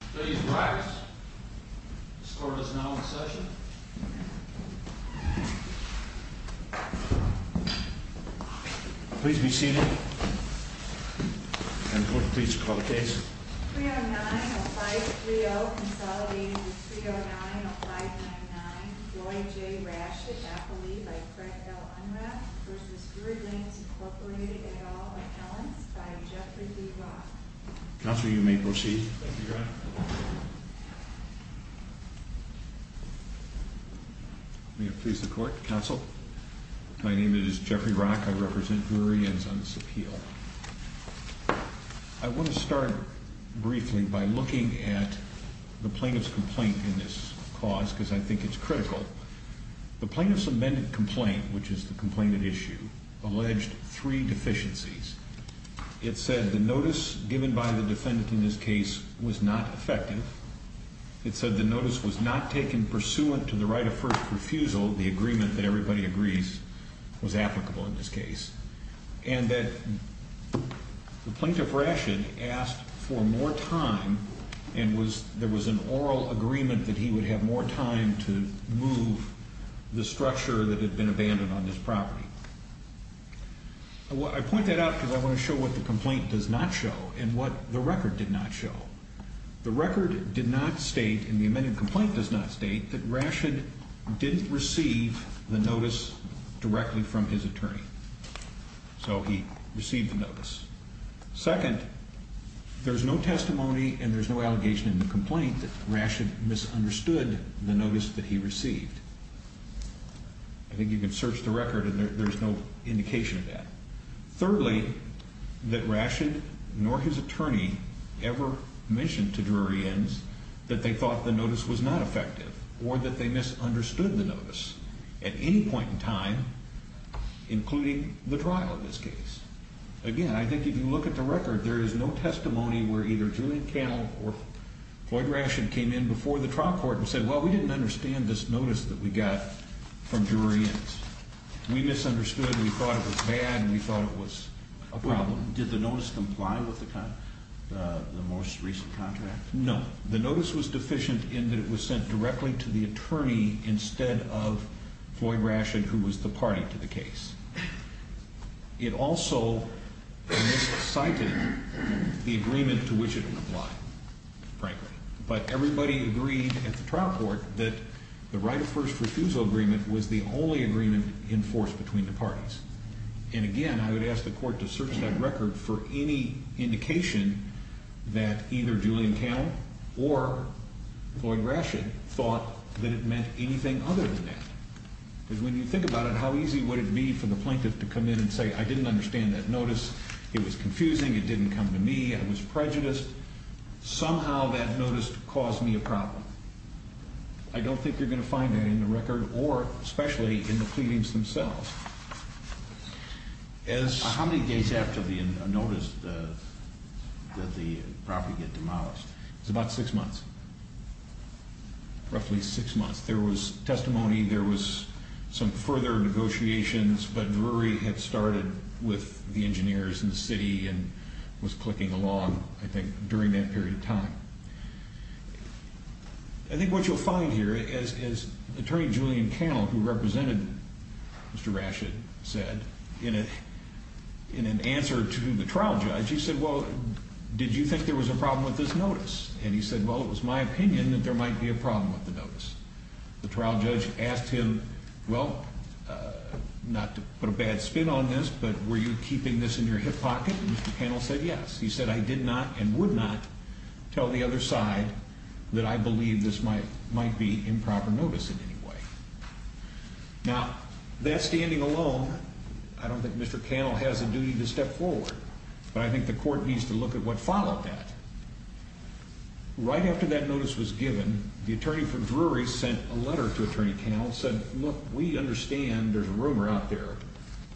Please rise. This court is now in session. Please be seated. And court, please call the case. 309-0530, consolidating with 309-0599, Floyd J. Rash at Appleby by Fred L. Unrath v. Drury Inns, Inc. et al., Appellants by Jeffrey D. Rock. Counsel, you may proceed. May it please the court. Counsel. My name is Jeffrey Rock. I represent Drury Inns on this appeal. I want to start briefly by looking at the plaintiff's complaint in this cause, because I think it's critical. The plaintiff's amended complaint, which is the complainant issue, alleged three deficiencies. It said the notice given by the defendant in this case was not effective. It said the notice was not taken pursuant to the right of first refusal, the agreement that everybody agrees was applicable in this case. And that the plaintiff, Rashid, asked for more time, and there was an oral agreement that he would have more time to move the structure that had been abandoned on this property. I point that out because I want to show what the complaint does not show and what the record did not show. The record did not state, and the amended complaint does not state, that Rashid didn't receive the notice directly from his attorney. So he received the notice. Second, there's no testimony and there's no allegation in the complaint that Rashid misunderstood the notice that he received. I think you can search the record and there's no indication of that. Thirdly, that Rashid nor his attorney ever mentioned to jury ends that they thought the notice was not effective or that they misunderstood the notice at any point in time, including the trial in this case. Again, I think if you look at the record, there is no testimony where either Julian Cannell or Floyd Rashid came in before the trial court and said, well, we didn't understand this notice that we got from jury ends. We misunderstood, we thought it was bad, and we thought it was a problem. Did the notice comply with the most recent contract? No. The notice was deficient in that it was sent directly to the attorney instead of Floyd Rashid, who was the party to the case. It also miscited the agreement to which it would apply, frankly. But everybody agreed at the trial court that the right of first refusal agreement was the only agreement in force between the parties. And again, I would ask the court to search that record for any indication that either Julian Cannell or Floyd Rashid thought that it meant anything other than that. Because when you think about it, how easy would it be for the plaintiff to come in and say, I didn't understand that notice, it was confusing, it didn't come to me, I was prejudiced. Somehow that notice caused me a problem. I don't think you're going to find that in the record or especially in the pleadings themselves. How many days after the notice did the property get demolished? It was about six months, roughly six months. There was testimony, there was some further negotiations, but Drury had started with the engineers in the city and was clicking along, I think, during that period of time. I think what you'll find here is Attorney Julian Cannell, who represented Mr. Rashid, said in an answer to the trial judge, he said, well, did you think there was a problem with this notice? And he said, well, it was my opinion that there might be a problem with the notice. The trial judge asked him, well, not to put a bad spin on this, but were you keeping this in your hip pocket? And Mr. Cannell said yes. He said, I did not and would not tell the other side that I believe this might be improper notice in any way. Now, that standing alone, I don't think Mr. Cannell has a duty to step forward, but I think the court needs to look at what followed that. Right after that notice was given, the attorney for Drury sent a letter to Attorney Cannell and said, look, we understand there's a rumor out there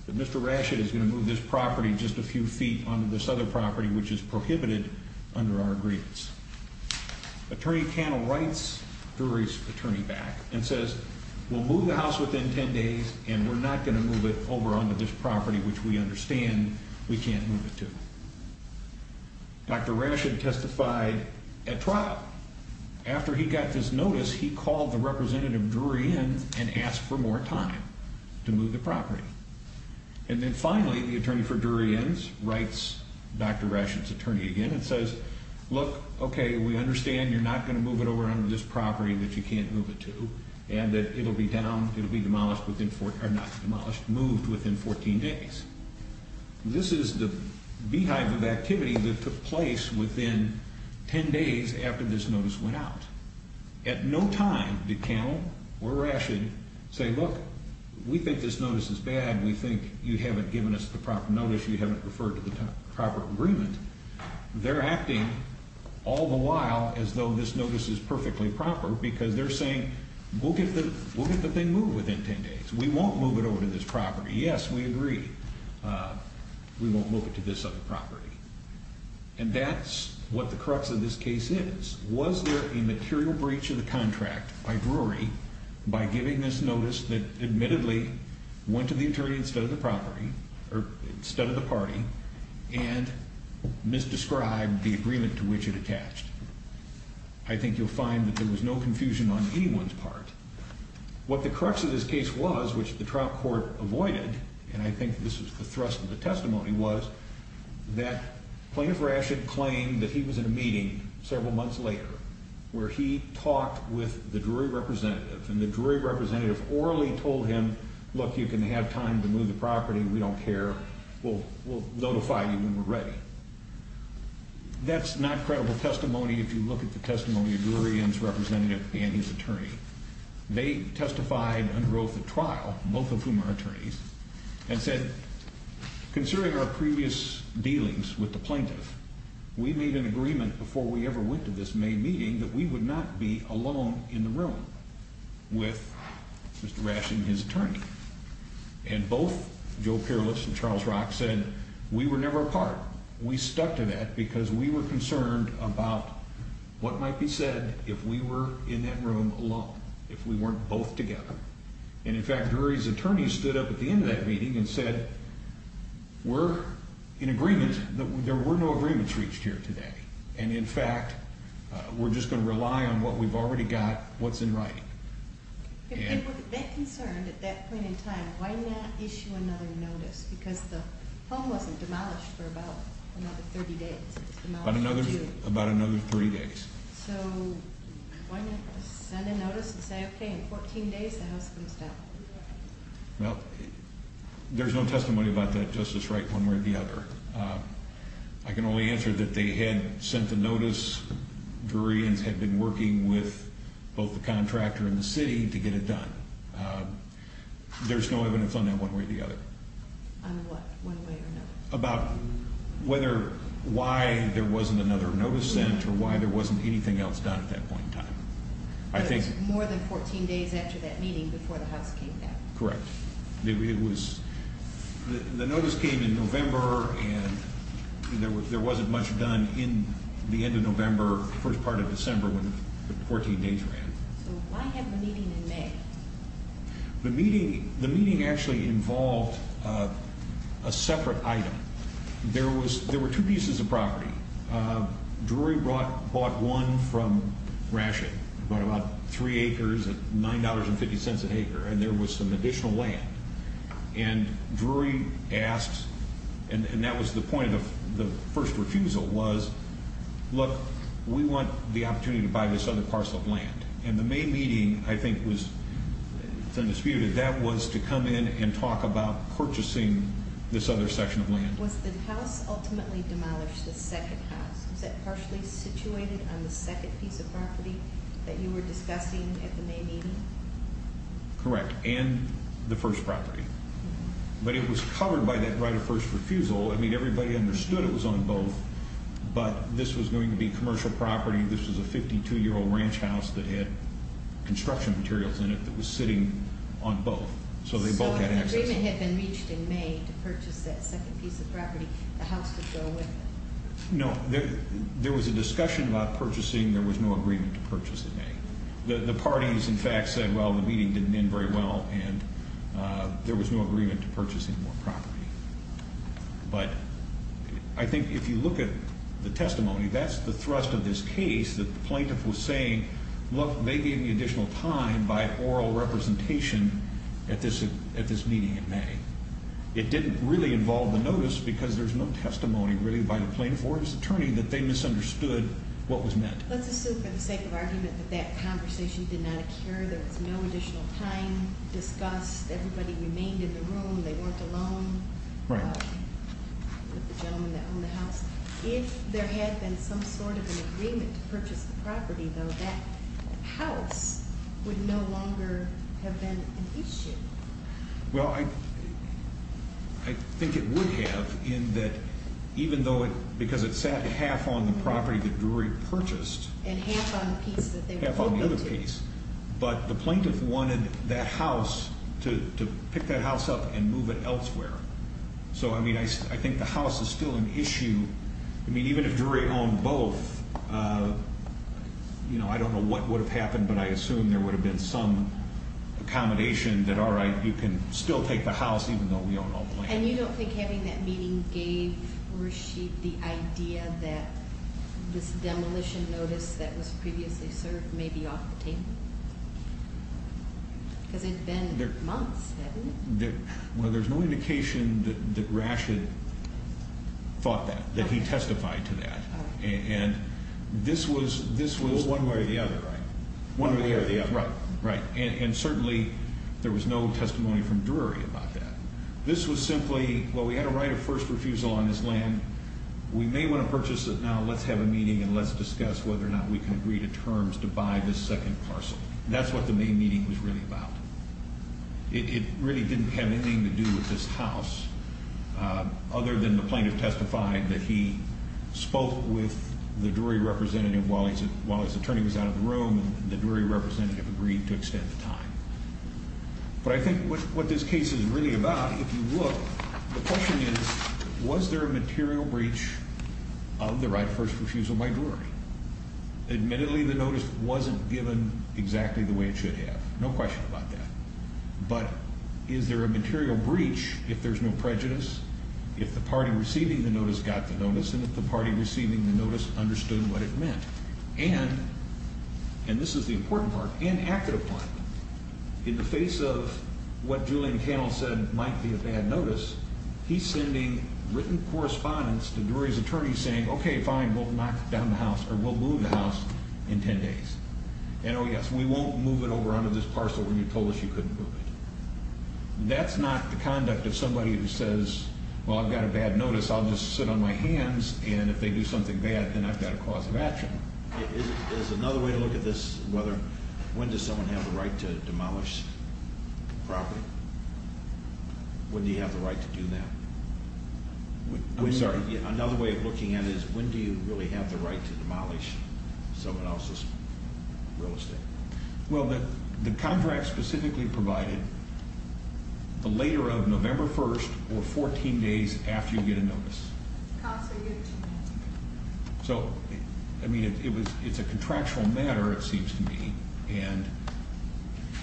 that Mr. Rashid is going to move this property just a few feet onto this other property, which is prohibited under our agreements. Attorney Cannell writes Drury's attorney back and says, we'll move the house within 10 days and we're not going to move it over onto this property, which we understand we can't move it to. Dr. Rashid testified at trial. After he got this notice, he called the representative Drury in and asked for more time to move the property. And then finally, the attorney for Drury ends, writes Dr. Rashid's attorney again and says, look, okay, we understand you're not going to move it over onto this property that you can't move it to, and that it'll be down, it'll be demolished within, or not demolished, moved within 14 days. This is the beehive of activity that took place within 10 days after this notice went out. At no time did Cannell or Rashid say, look, we think this notice is bad, we think you haven't given us the proper notice, you haven't referred to the proper agreement. They're acting all the while as though this notice is perfectly proper because they're saying we'll get the thing moved within 10 days. We won't move it over to this property. Yes, we agree we won't move it to this other property. And that's what the crux of this case is. Was there a material breach of the contract by Drury by giving this notice that admittedly went to the attorney instead of the party and misdescribed the agreement to which it attached? I think you'll find that there was no confusion on anyone's part. What the crux of this case was, which the trial court avoided, and I think this was the thrust of the testimony, where he talked with the Drury representative, and the Drury representative orally told him, look, you can have time to move the property, we don't care, we'll notify you when we're ready. That's not credible testimony if you look at the testimony of Drury and his representative and his attorney. They testified under oath at trial, both of whom are attorneys, and said, considering our previous dealings with the plaintiff, we made an agreement before we ever went to this May meeting that we would not be alone in the room with Mr. Rashin and his attorney. And both Joe Pierlis and Charles Rock said we were never apart. We stuck to that because we were concerned about what might be said if we were in that room alone, if we weren't both together. And, in fact, Drury's attorney stood up at the end of that meeting and said, we're in agreement. There were no agreements reached here today. And, in fact, we're just going to rely on what we've already got, what's in writing. If they were that concerned at that point in time, why not issue another notice? Because the home wasn't demolished for about another 30 days. It was demolished for two. About another 30 days. So why not send a notice and say, okay, in 14 days the house comes down? Well, there's no testimony about that, Justice Wright, one way or the other. I can only answer that they had sent the notice. Drury had been working with both the contractor and the city to get it done. There's no evidence on that one way or the other. On what, one way or another? About whether why there wasn't another notice sent more than 14 days after that meeting before the house came down. Correct. The notice came in November, and there wasn't much done in the end of November, first part of December, when the 14 days ran. So why have the meeting in May? The meeting actually involved a separate item. There were two pieces of property. Drury bought one from Ratchet, bought about three acres at $9.50 an acre, and there was some additional land. And Drury asked, and that was the point of the first refusal, was, look, we want the opportunity to buy this other parcel of land. And the May meeting, I think, was, it's undisputed, that was to come in and talk about purchasing this other section of land. Was the house ultimately demolished, the second house? Was that partially situated on the second piece of property that you were discussing at the May meeting? Correct, and the first property. But it was covered by that right of first refusal. I mean, everybody understood it was on both, but this was going to be commercial property. This was a 52-year-old ranch house that had construction materials in it that was sitting on both, so they both had access. The agreement had been reached in May to purchase that second piece of property. The house could go with it. No, there was a discussion about purchasing. There was no agreement to purchase in May. The parties, in fact, said, well, the meeting didn't end very well, and there was no agreement to purchasing more property. But I think if you look at the testimony, that's the thrust of this case that the plaintiff was saying, look, they gave me additional time by oral representation at this meeting. It didn't really involve the notice because there's no testimony, really, by the plaintiff or his attorney that they misunderstood what was meant. Let's assume for the sake of argument that that conversation did not occur. There was no additional time discussed. Everybody remained in the room. They weren't alone with the gentleman that owned the house. If there had been some sort of an agreement to purchase the property, though, that house would no longer have been an issue. Well, I think it would have in that even though it – because it sat half on the property that Drury purchased. And half on the piece that they were talking to. Half on the other piece. But the plaintiff wanted that house to pick that house up and move it elsewhere. So, I mean, I think the house is still an issue. I mean, even if Drury owned both, you know, I don't know what would have happened, but I assume there would have been some accommodation that, all right, you can still take the house even though we own all the land. And you don't think having that meeting gave Rashid the idea that this demolition notice that was previously served may be off the table? Because it had been months, hadn't it? Well, there's no indication that Rashid thought that, that he testified to that. And this was one way or the other, right? One way or the other. Right. And certainly there was no testimony from Drury about that. This was simply, well, we had a right of first refusal on this land. We may want to purchase it now. Let's have a meeting and let's discuss whether or not we can agree to terms to buy this second parcel. That's what the main meeting was really about. It really didn't have anything to do with this house other than the plaintiff testified that he spoke with the Drury representative while his attorney was out of the room and the Drury representative agreed to extend the time. But I think what this case is really about, if you look, the question is was there a material breach of the right of first refusal by Drury? Admittedly, the notice wasn't given exactly the way it should have. No question about that. But is there a material breach if there's no prejudice, if the party receiving the notice got the notice, and if the party receiving the notice understood what it meant? And, and this is the important part, and active part, in the face of what Julian Cannell said might be a bad notice, he's sending written correspondence to Drury's attorney saying, okay, fine, we'll knock down the house or we'll move the house in 10 days. And oh, yes, we won't move it over onto this parcel where you told us you couldn't move it. That's not the conduct of somebody who says, well, I've got a bad notice, I'll just sit on my hands, and if they do something bad, then I've got a cause of action. There's another way to look at this, whether, when does someone have the right to demolish property? When do you have the right to do that? I'm sorry? Another way of looking at it is when do you really have the right to demolish someone else's property? Well, the contract specifically provided the later of November 1st or 14 days after you get a notice. So, I mean, it's a contractual matter, it seems to me, and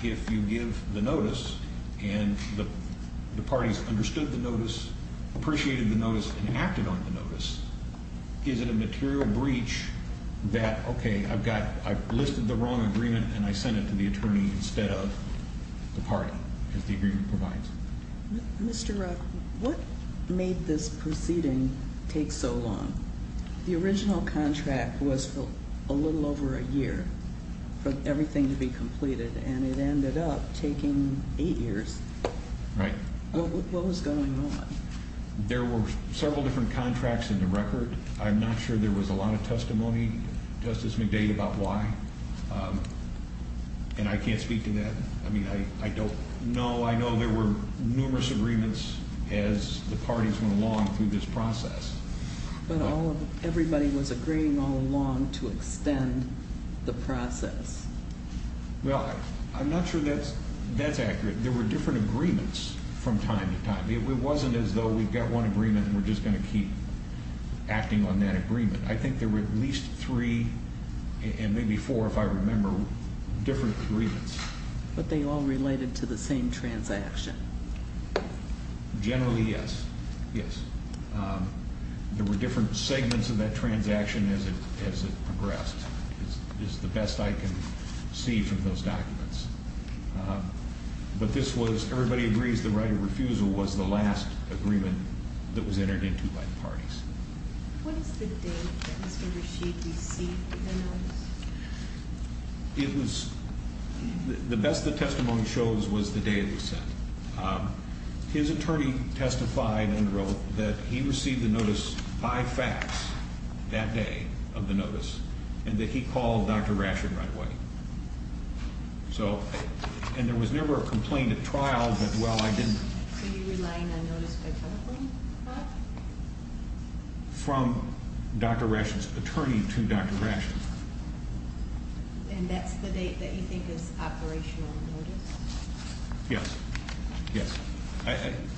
if you give the notice and the parties understood the notice, appreciated the notice, and acted on the notice, is it a material breach that, okay, I've listed the wrong agreement and I sent it to the attorney instead of the party, as the agreement provides? Mr. Rock, what made this proceeding take so long? The original contract was for a little over a year for everything to be completed, and it ended up taking eight years. Right. What was going on? There were several different contracts in the record. I'm not sure there was a lot of testimony, Justice McDade, about why, and I can't speak to that. I mean, I don't know. I know there were numerous agreements as the parties went along through this process. But everybody was agreeing all along to extend the process. Well, I'm not sure that's accurate. There were different agreements from time to time. It wasn't as though we've got one agreement and we're just going to keep acting on that agreement. I think there were at least three and maybe four, if I remember, different agreements. But they all related to the same transaction. Generally, yes, yes. There were different segments of that transaction as it progressed, is the best I can see from those documents. But everybody agrees the right of refusal was the last agreement that was entered into by the parties. What is the date that Mr. Rashid received the notice? The best the testimony shows was the day it was sent. His attorney testified and wrote that he received the notice by fax that day of the notice and that he called Dr. Rashid right away. So, and there was never a complaint at trial, but, well, I didn't- So you're relying on notice by telephone call? From Dr. Rashid's attorney to Dr. Rashid. And that's the date that you think is operational notice? Yes, yes.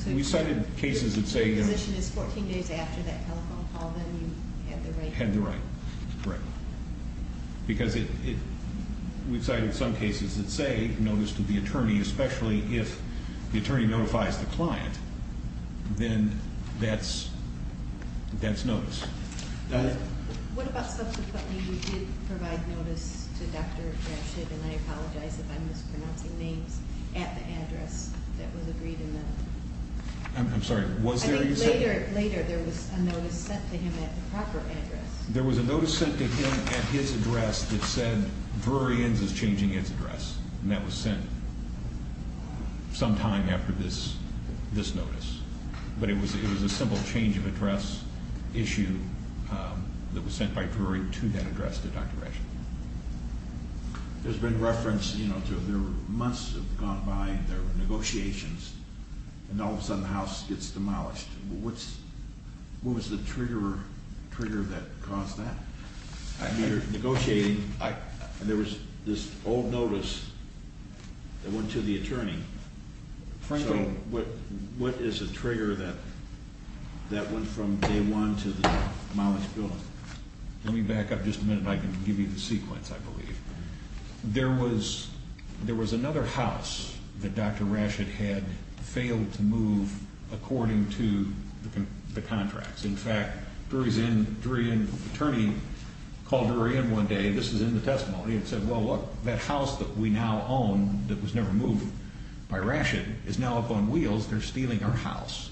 We cited cases that say- If the position is 14 days after that telephone call, then you have the right- Have the right, correct. Because we've cited some cases that say notice to the attorney, especially if the attorney notifies the client, then that's notice. Donna? What about subsequently you did provide notice to Dr. Rashid, and I apologize if I'm mispronouncing names, at the address that was agreed in the- I'm sorry, was there a- I think later there was a notice sent to him at the proper address. There was a notice sent to him at his address that said, Drury Inns is changing its address. And that was sent sometime after this notice. But it was a simple change of address issue that was sent by Drury to that address to Dr. Rashid. There's been reference, you know, to- There were months have gone by, there were negotiations, and all of a sudden the house gets demolished. What was the trigger that caused that? You're negotiating, and there was this old notice that went to the attorney. Frankly- So what is the trigger that went from day one to the demolished building? Let me back up just a minute, and I can give you the sequence, I believe. There was another house that Dr. Rashid had failed to move according to the contracts. In fact, Drury Inn attorney called Drury Inn one day, this is in the testimony, and said, Well, look, that house that we now own that was never moved by Rashid is now up on wheels, they're stealing our house.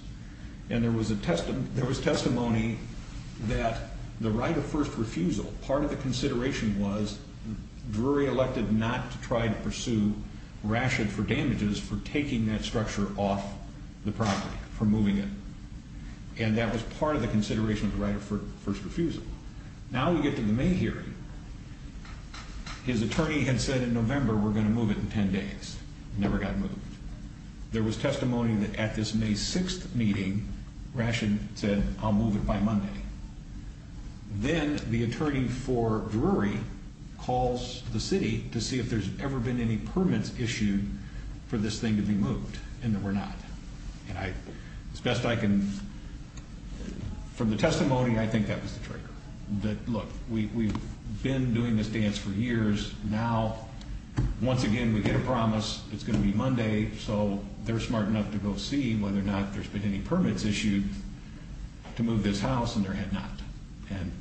And there was testimony that the right of first refusal, part of the consideration was Drury elected not to try to pursue Rashid for damages for taking that structure off the property, for moving it. And that was part of the consideration of the right of first refusal. Now we get to the May hearing. His attorney had said in November we're going to move it in 10 days. It never got moved. There was testimony that at this May 6th meeting, Rashid said, I'll move it by Monday. Then the attorney for Drury calls the city to see if there's ever been any permits issued for this thing to be moved, and there were not. And as best I can, from the testimony, I think that was the trigger. Look, we've been doing this dance for years. Now, once again, we get a promise it's going to be Monday, so they're smart enough to go see whether or not there's been any permits issued to move this house, and there had not. And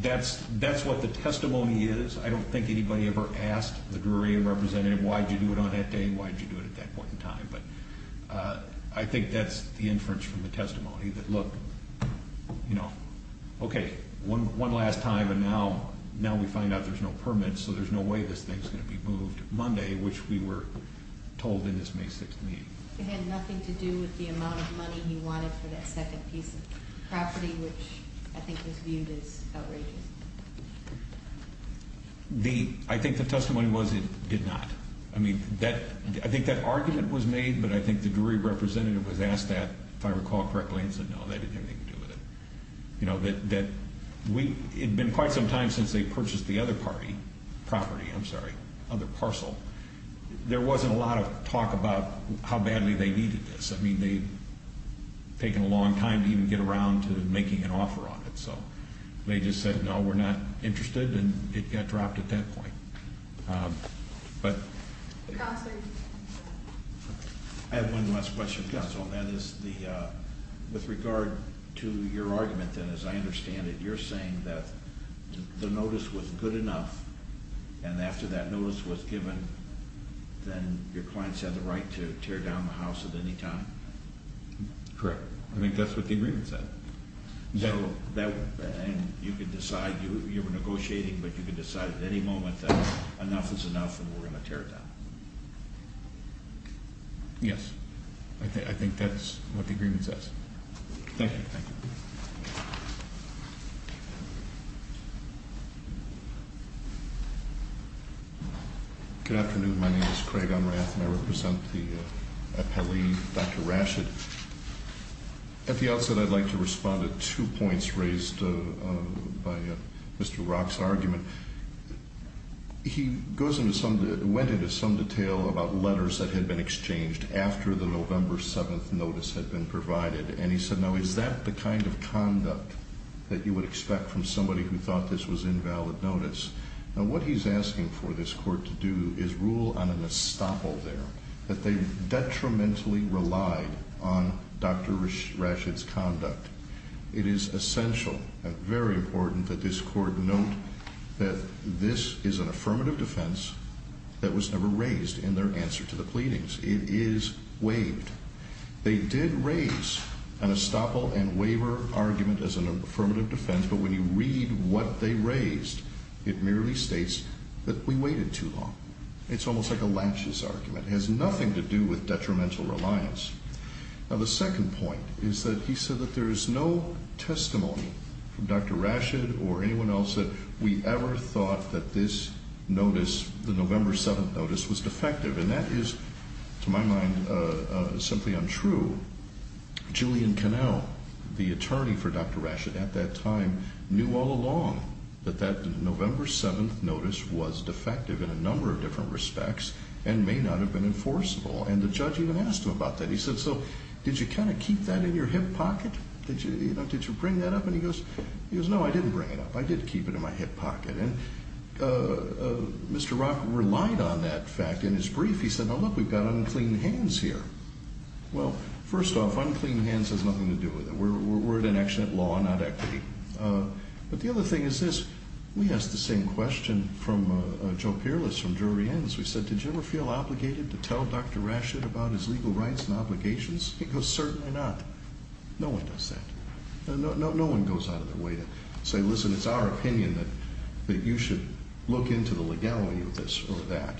that's what the testimony is. I don't think anybody ever asked the Drury representative, why did you do it on that day and why did you do it at that point in time? But I think that's the inference from the testimony that, look, you know, okay, one last time, and now we find out there's no permits, so there's no way this thing's going to be moved Monday, which we were told in this May 6th meeting. It had nothing to do with the amount of money he wanted for that second piece of property, which I think was viewed as outrageous. I think the testimony was it did not. I mean, I think that argument was made, but I think the Drury representative was asked that, if I recall correctly, and said, no, they didn't have anything to do with it. You know, it had been quite some time since they purchased the other party property, I'm sorry, other parcel. There wasn't a lot of talk about how badly they needed this. I mean, they had taken a long time to even get around to making an offer on it. So they just said, no, we're not interested, and it got dropped at that point. Counselor? I have one last question, Counsel, and that is with regard to your argument, as I understand it, you're saying that the notice was good enough, and after that notice was given, then your clients had the right to tear down the house at any time? Correct. I think that's what the agreement said. And you could decide, you were negotiating, but you could decide at any moment that enough is enough and we're going to tear it down. Yes. I think that's what the agreement says. Thank you. Thank you. Thank you. Good afternoon. My name is Craig Unrath, and I represent the appellee, Dr. Rashid. At the outset, I'd like to respond to two points raised by Mr. Rock's argument. He went into some detail about letters that had been exchanged after the November 7th notice had been provided, and he said, now, is that the kind of conduct that you would expect from somebody who thought this was invalid notice? Now, what he's asking for this court to do is rule on an estoppel there, that they detrimentally relied on Dr. Rashid's conduct. It is essential and very important that this court note that this is an affirmative defense that was never raised in their answer to the pleadings. It is waived. They did raise an estoppel and waiver argument as an affirmative defense, but when you read what they raised, it merely states that we waited too long. It's almost like a laches argument. It has nothing to do with detrimental reliance. Now, the second point is that he said that there is no testimony from Dr. Rashid or anyone else that we ever thought that this notice, the November 7th notice, was defective, and that is, to my mind, simply untrue. Julian Connell, the attorney for Dr. Rashid at that time, knew all along that that November 7th notice was defective in a number of different respects and may not have been enforceable, and the judge even asked him about that. He said, so did you kind of keep that in your hip pocket? Did you bring that up? And he goes, no, I didn't bring it up. I did keep it in my hip pocket. And Mr. Rock relied on that fact in his brief. He said, now look, we've got unclean hands here. Well, first off, unclean hands has nothing to do with it. We're at an accident law, not equity. But the other thing is this. We asked the same question from Joe Peerless from Drury Ends. We said, did you ever feel obligated to tell Dr. Rashid about his legal rights and obligations? He goes, certainly not. No one does that. No one goes out of their way to say, listen, it's our opinion that you should look into the legality of this or that.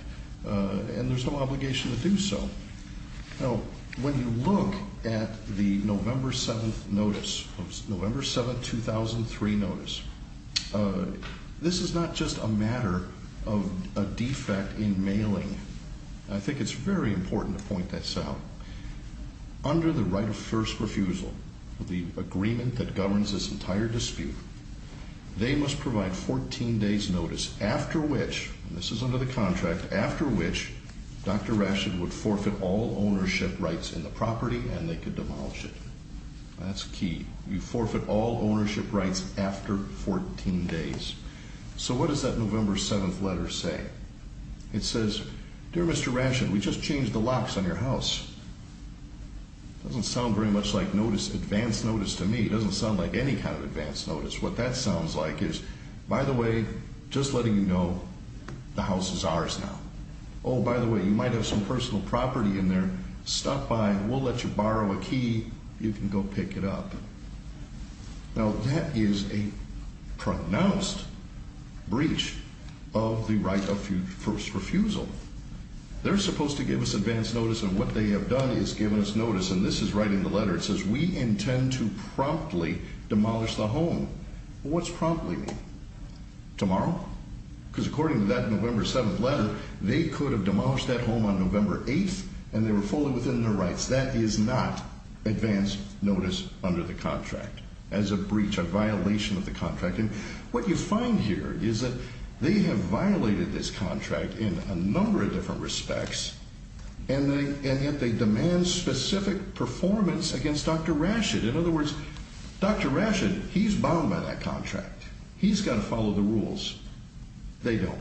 And there's no obligation to do so. Now, when you look at the November 7th notice, November 7, 2003 notice, this is not just a matter of a defect in mailing. I think it's very important to point this out. Under the right of first refusal, the agreement that governs this entire dispute, they must provide 14 days notice after which, and this is under the contract, after which Dr. Rashid would forfeit all ownership rights in the property and they could demolish it. That's key. You forfeit all ownership rights after 14 days. So what does that November 7th letter say? It says, dear Mr. Rashid, we just changed the locks on your house. It doesn't sound very much like notice, advance notice to me. It doesn't sound like any kind of advance notice. What that sounds like is, by the way, just letting you know, the house is ours now. Oh, by the way, you might have some personal property in there. Stop by and we'll let you borrow a key. You can go pick it up. Now, that is a pronounced breach of the right of first refusal. They're supposed to give us advance notice, and what they have done is given us notice, and this is right in the letter. It says, we intend to promptly demolish the home. What's promptly mean? Tomorrow? Because according to that November 7th letter, they could have demolished that home on November 8th and they were fully within their rights. That is not advance notice under the contract as a breach, a violation of the contract, and what you find here is that they have violated this contract in a number of different respects, and yet they demand specific performance against Dr. Rashid. In other words, Dr. Rashid, he's bound by that contract. He's got to follow the rules. They don't.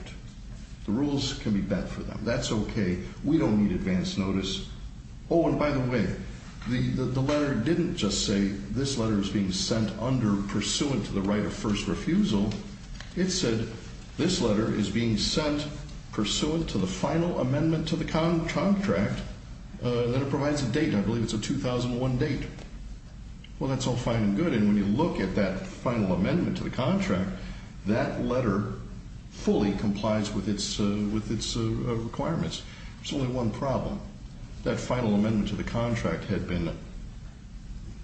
The rules can be bent for them. That's okay. We don't need advance notice. Oh, and by the way, the letter didn't just say this letter is being sent under pursuant to the right of first refusal. It said this letter is being sent pursuant to the final amendment to the contract, and then it provides a date. I believe it's a 2001 date. Well, that's all fine and good, and when you look at that final amendment to the contract, that letter fully complies with its requirements. There's only one problem. That final amendment to the contract had been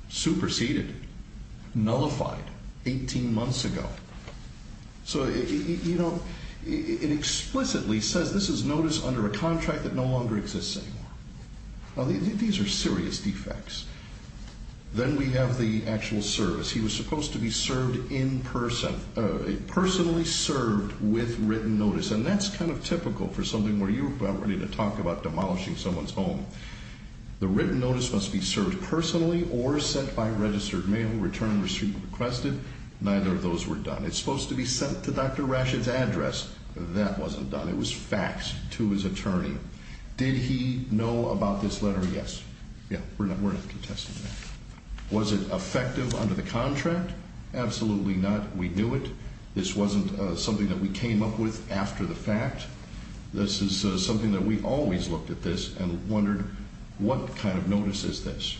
superseded, nullified 18 months ago. So, you know, it explicitly says this is notice under a contract that no longer exists anymore. Now, these are serious defects. Then we have the actual service. He was supposed to be served in person, personally served with written notice, and that's kind of typical for something where you're about ready to talk about demolishing someone's home. The written notice must be served personally or sent by registered mail, return receipt requested. Neither of those were done. It's supposed to be sent to Dr. Rashid's address. That wasn't done. It was faxed to his attorney. Did he know about this letter? Yes. Yeah, we're not contesting that. Was it effective under the contract? Absolutely not. We knew it. This wasn't something that we came up with after the fact. This is something that we always looked at this and wondered, what kind of notice is this?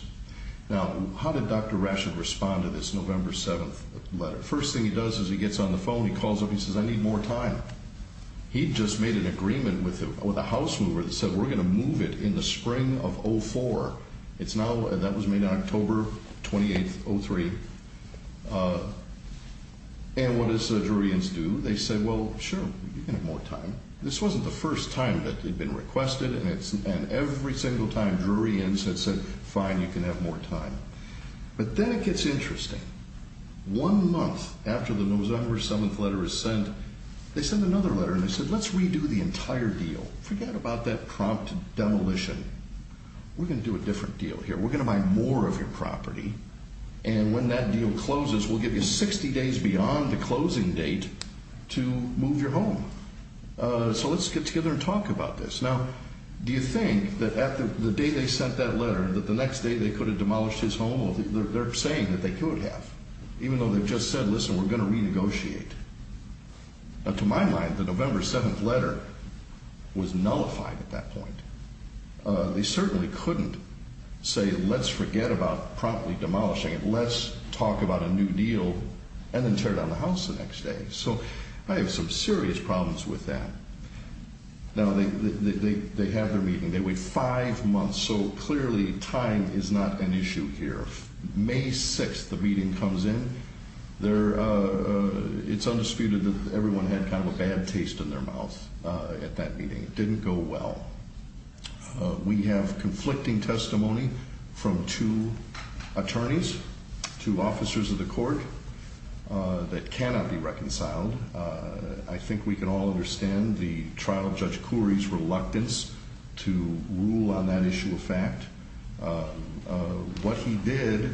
Now, how did Dr. Rashid respond to this November 7th letter? First thing he does is he gets on the phone. He calls up. He says, I need more time. He just made an agreement with a house mover that said we're going to move it in the spring of 04. That was made on October 28th, 03. And what does the jury do? They say, well, sure, you can have more time. This wasn't the first time that it had been requested. And every single time, juries had said, fine, you can have more time. But then it gets interesting. One month after the November 7th letter is sent, they send another letter. And they said, let's redo the entire deal. Forget about that prompt demolition. We're going to do a different deal here. We're going to buy more of your property. And when that deal closes, we'll give you 60 days beyond the closing date to move your home. So let's get together and talk about this. Now, do you think that the day they sent that letter, that the next day they could have demolished his home? They're saying that they could have, even though they've just said, listen, we're going to renegotiate. Now, to my mind, the November 7th letter was nullified at that point. They certainly couldn't say, let's forget about promptly demolishing it. Let's talk about a new deal and then tear down the house the next day. So I have some serious problems with that. Now, they have their meeting. They wait five months. So clearly, time is not an issue here. May 6th, the meeting comes in. It's undisputed that everyone had kind of a bad taste in their mouth at that meeting. It didn't go well. We have conflicting testimony from two attorneys, two officers of the court that cannot be reconciled. I think we can all understand the trial judge Corey's reluctance to rule on that issue of fact. What he did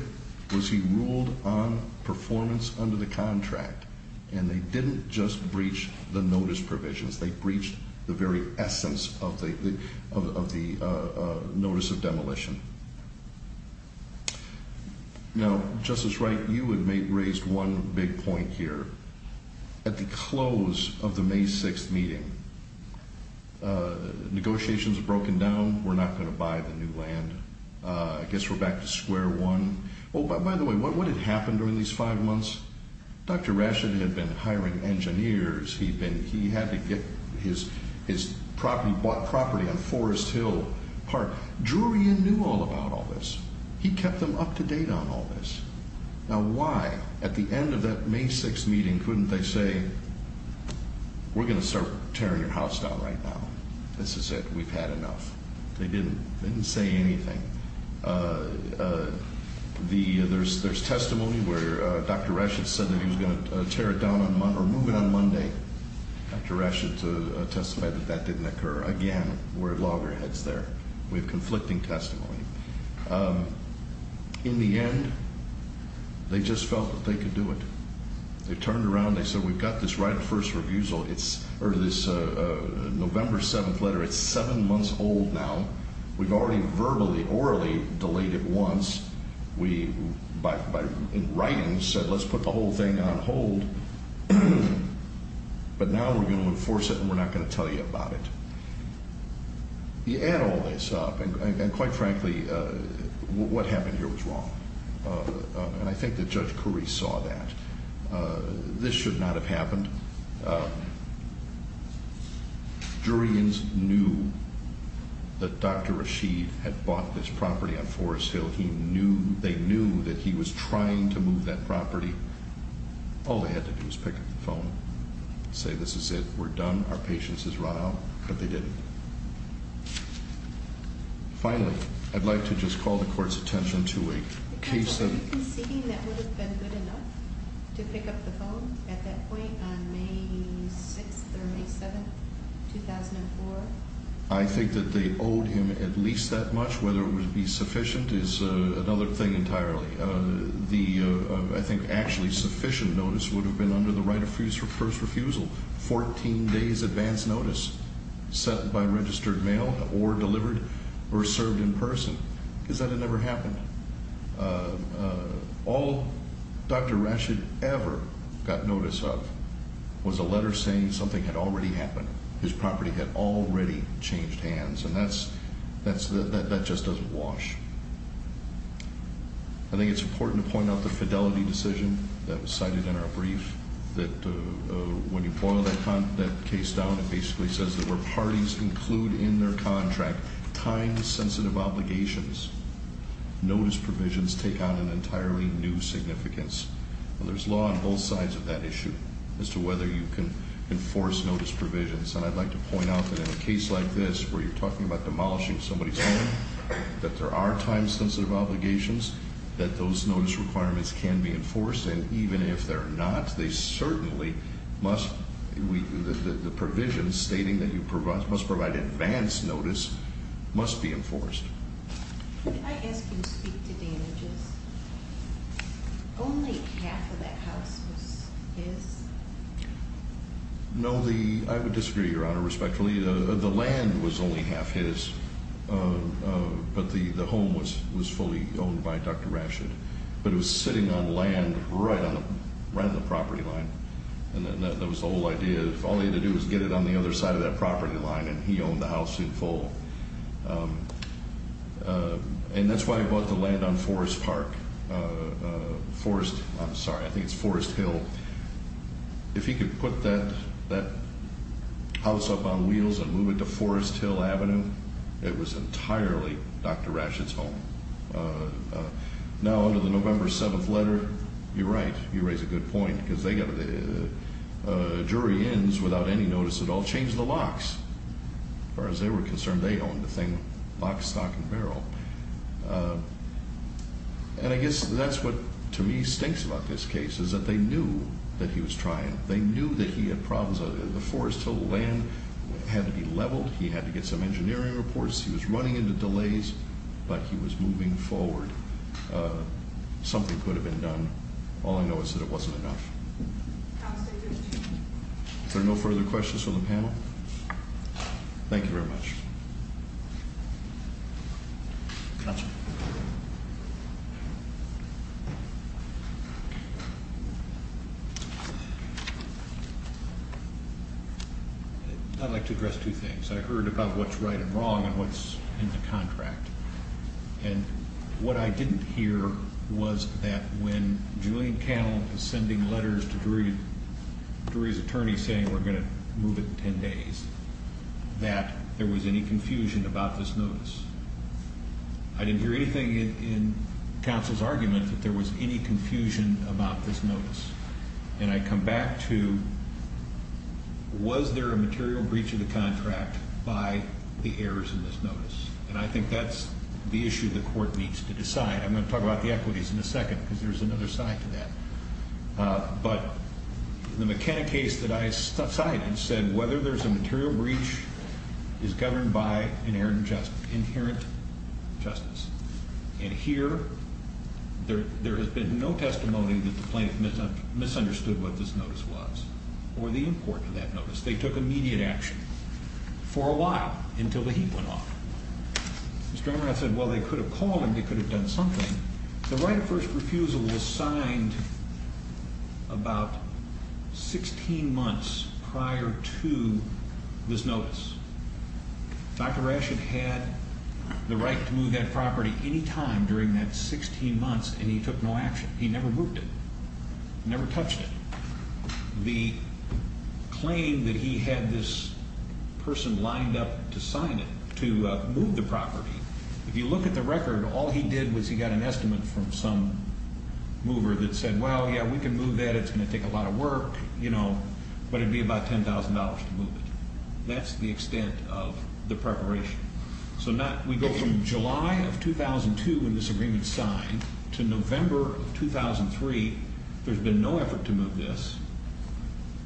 was he ruled on performance under the contract. And they didn't just breach the notice provisions. They breached the very essence of the notice of demolition. Now, Justice Wright, you had raised one big point here. At the close of the May 6th meeting, negotiations had broken down. We're not going to buy the new land. I guess we're back to square one. Oh, by the way, what had happened during these five months? Dr. Rashid had been hiring engineers. He had to get his property on Forest Hill Park. Drurian knew all about all this. He kept them up to date on all this. Now, why, at the end of that May 6th meeting, couldn't they say, we're going to start tearing your house down right now? This is it. We've had enough. They didn't say anything. There's testimony where Dr. Rashid said that he was going to tear it down or move it on Monday. Dr. Rashid testified that that didn't occur. Again, we're at loggerheads there. We have conflicting testimony. In the end, they just felt that they could do it. They turned around. They said, we've got this right of first refusal, or this November 7th letter. It's seven months old now. We've already verbally, orally delayed it once. We, in writing, said let's put the whole thing on hold. But now we're going to enforce it and we're not going to tell you about it. You add all this up, and quite frankly, what happened here was wrong. And I think that Judge Carice saw that. This should not have happened. Jurians knew that Dr. Rashid had bought this property on Forest Hill. They knew that he was trying to move that property. All they had to do was pick up the phone and say, this is it. We're done. Our patience has run out. But they didn't. Finally, I'd like to just call the court's attention to a case of Counsel, are you conceding that would have been good enough to pick up the phone at that point on May 6th or May 7th, 2004? I think that they owed him at least that much. Whether it would be sufficient is another thing entirely. I think actually sufficient notice would have been under the right of first refusal, 14 days advance notice set by registered mail or delivered or served in person. Because that had never happened. All Dr. Rashid ever got notice of was a letter saying something had already happened. His property had already changed hands. And that just doesn't wash. I think it's important to point out the fidelity decision that was cited in our brief, that when you boil that case down, it basically says that where parties include in their contract time-sensitive obligations, notice provisions take on an entirely new significance. There's law on both sides of that issue as to whether you can enforce notice provisions. And I'd like to point out that in a case like this where you're talking about demolishing somebody's home, that there are time-sensitive obligations that those notice requirements can be enforced. And even if they're not, the provisions stating that you must provide advance notice must be enforced. Could I ask you to speak to damages? Only half of that house was his? No, I would disagree, Your Honor, respectfully. The land was only half his, but the home was fully owned by Dr. Rashid. But it was sitting on land right on the property line. And that was the whole idea. All he had to do was get it on the other side of that property line, and he owned the house in full. And that's why he bought the land on Forest Park. I'm sorry, I think it's Forest Hill. If he could put that house up on wheels and move it to Forest Hill Avenue, it was entirely Dr. Rashid's home. Now under the November 7th letter, you're right, you raise a good point, because the jury ends without any notice at all, change the locks. As far as they were concerned, they owned the thing, lock, stock, and barrel. And I guess that's what to me stinks about this case, is that they knew that he was trying. They knew that he had problems. The Forest Hill land had to be leveled. He had to get some engineering reports. He was running into delays, but he was moving forward. Something could have been done. All I know is that it wasn't enough. Are there no further questions from the panel? Thank you very much. Counsel. I'd like to address two things. I heard about what's right and wrong and what's in the contract. And what I didn't hear was that when Julian Cannell was sending letters to Drury's attorney saying, we're going to move it in 10 days, that there was any confusion about this notice. I didn't hear anything in counsel's argument that there was any confusion about this notice. And I come back to, was there a material breach of the contract by the errors in this notice? And I think that's the issue the court needs to decide. I'm going to talk about the equities in a second, because there's another side to that. But the McKenna case that I cited said whether there's a material breach is governed by inherent justice. And here, there has been no testimony that the plaintiff misunderstood what this notice was or the import of that notice. They took immediate action for a while until the heat went off. Mr. Emmerath said, well, they could have called and they could have done something. The right of first refusal was signed about 16 months prior to this notice. Dr. Rash had had the right to move that property any time during that 16 months, and he took no action. He never moved it, never touched it. The claim that he had this person lined up to sign it, to move the property, if you look at the record, all he did was he got an estimate from some mover that said, well, yeah, we can move that, it's going to take a lot of work, you know, but it would be about $10,000 to move it. That's the extent of the preparation. So we go from July of 2002 when this agreement was signed to November of 2003. There's been no effort to move this.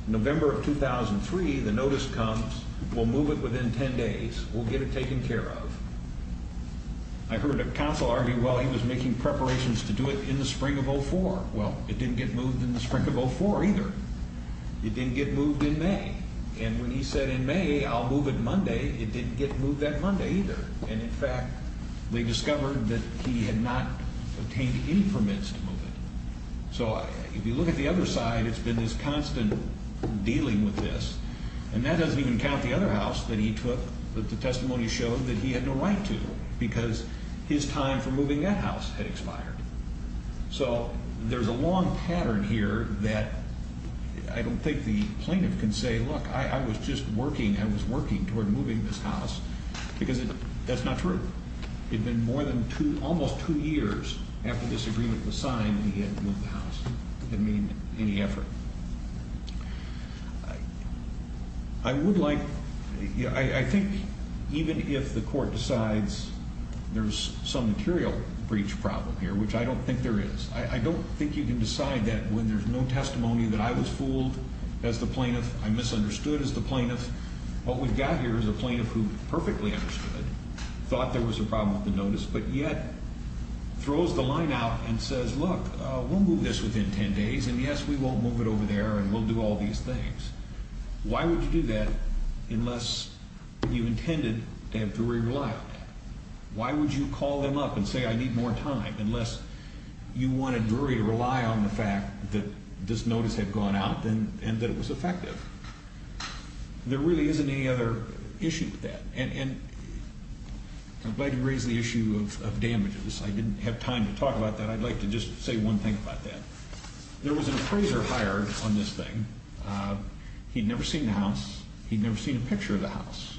November of 2003, the notice comes. We'll move it within 10 days. We'll get it taken care of. I heard a counsel argue, well, he was making preparations to do it in the spring of 04. Well, it didn't get moved in the spring of 04 either. It didn't get moved in May. And when he said in May, I'll move it Monday, it didn't get moved that Monday either. And, in fact, they discovered that he had not obtained any permits to move it. So if you look at the other side, it's been this constant dealing with this. And that doesn't even count the other house that he took that the testimony showed that he had no right to So there's a long pattern here that I don't think the plaintiff can say, look, I was just working. I was working toward moving this house because that's not true. It had been more than two, almost two years after this agreement was signed that he had moved the house. It didn't mean any effort. I would like, I think even if the court decides there's some material breach problem here, which I don't think there is, I don't think you can decide that when there's no testimony that I was fooled as the plaintiff, I misunderstood as the plaintiff. What we've got here is a plaintiff who perfectly understood, thought there was a problem with the notice, but yet throws the line out and says, look, we'll move this within ten days, and, yes, we won't move it over there, and we'll do all these things. Why would you do that unless you intended to have Drury rely on that? Why would you call them up and say, I need more time, unless you wanted Drury to rely on the fact that this notice had gone out and that it was effective? There really isn't any other issue with that. And I'm glad you raised the issue of damages. I didn't have time to talk about that. I'd like to just say one thing about that. There was an appraiser hired on this thing. He'd never seen the house. He'd never seen a picture of the house.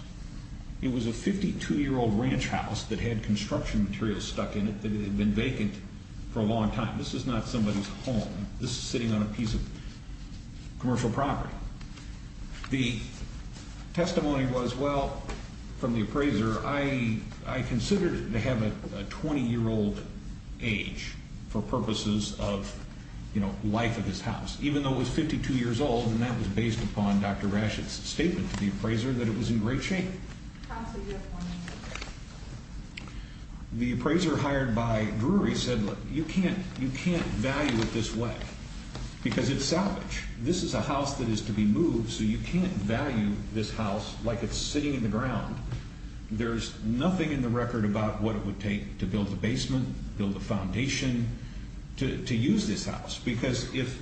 It was a 52-year-old ranch house that had construction materials stuck in it that had been vacant for a long time. This is not somebody's home. This is sitting on a piece of commercial property. The testimony was, well, from the appraiser, I considered it to have a 20-year-old age for purposes of life of this house, even though it was 52 years old, and that was based upon Dr. Rashid's statement to the appraiser that it was in great shape. The appraiser hired by Drury said, look, you can't value it this way because it's salvage. This is a house that is to be moved, so you can't value this house like it's sitting in the ground. There's nothing in the record about what it would take to build a basement, build a foundation, to use this house, because if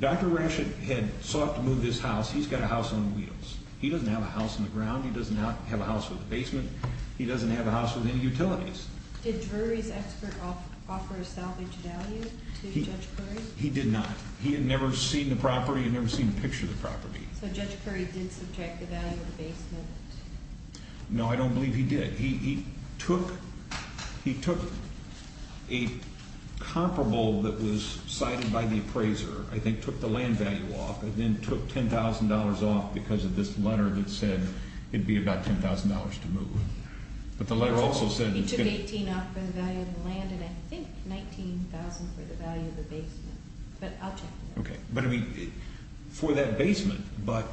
Dr. Rashid had sought to move this house, he's got a house on wheels. He doesn't have a house in the ground. He does not have a house with a basement. He doesn't have a house with any utilities. Did Drury's expert offer a salvage value to Judge Curry? He did not. He had never seen the property. He had never seen a picture of the property. So Judge Curry did subtract the value of the basement? No, I don't believe he did. He took a comparable that was cited by the appraiser, I think took the land value off, and then took $10,000 off because of this letter that said it would be about $10,000 to move. But the letter also said— He took $18,000 off for the value of the land and I think $19,000 for the value of the basement. But I'll check with him. Okay. But, I mean, for that basement, but,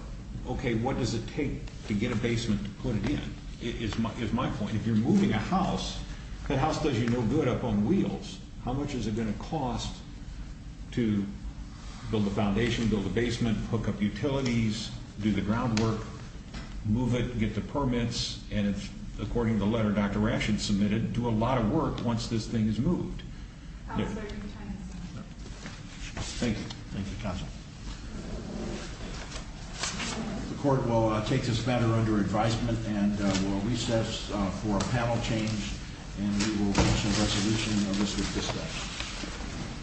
okay, what does it take to get a basement to put it in is my point. If you're moving a house, that house does you no good up on wheels. How much is it going to cost to build a foundation, build a basement, hook up utilities, do the groundwork, move it, get the permits, and, according to the letter Dr. Rashid submitted, do a lot of work once this thing is moved? No. Thank you. Thank you, counsel. The court will take this matter under advisement and will recess for a panel change, and we will reach a resolution of this with this bill.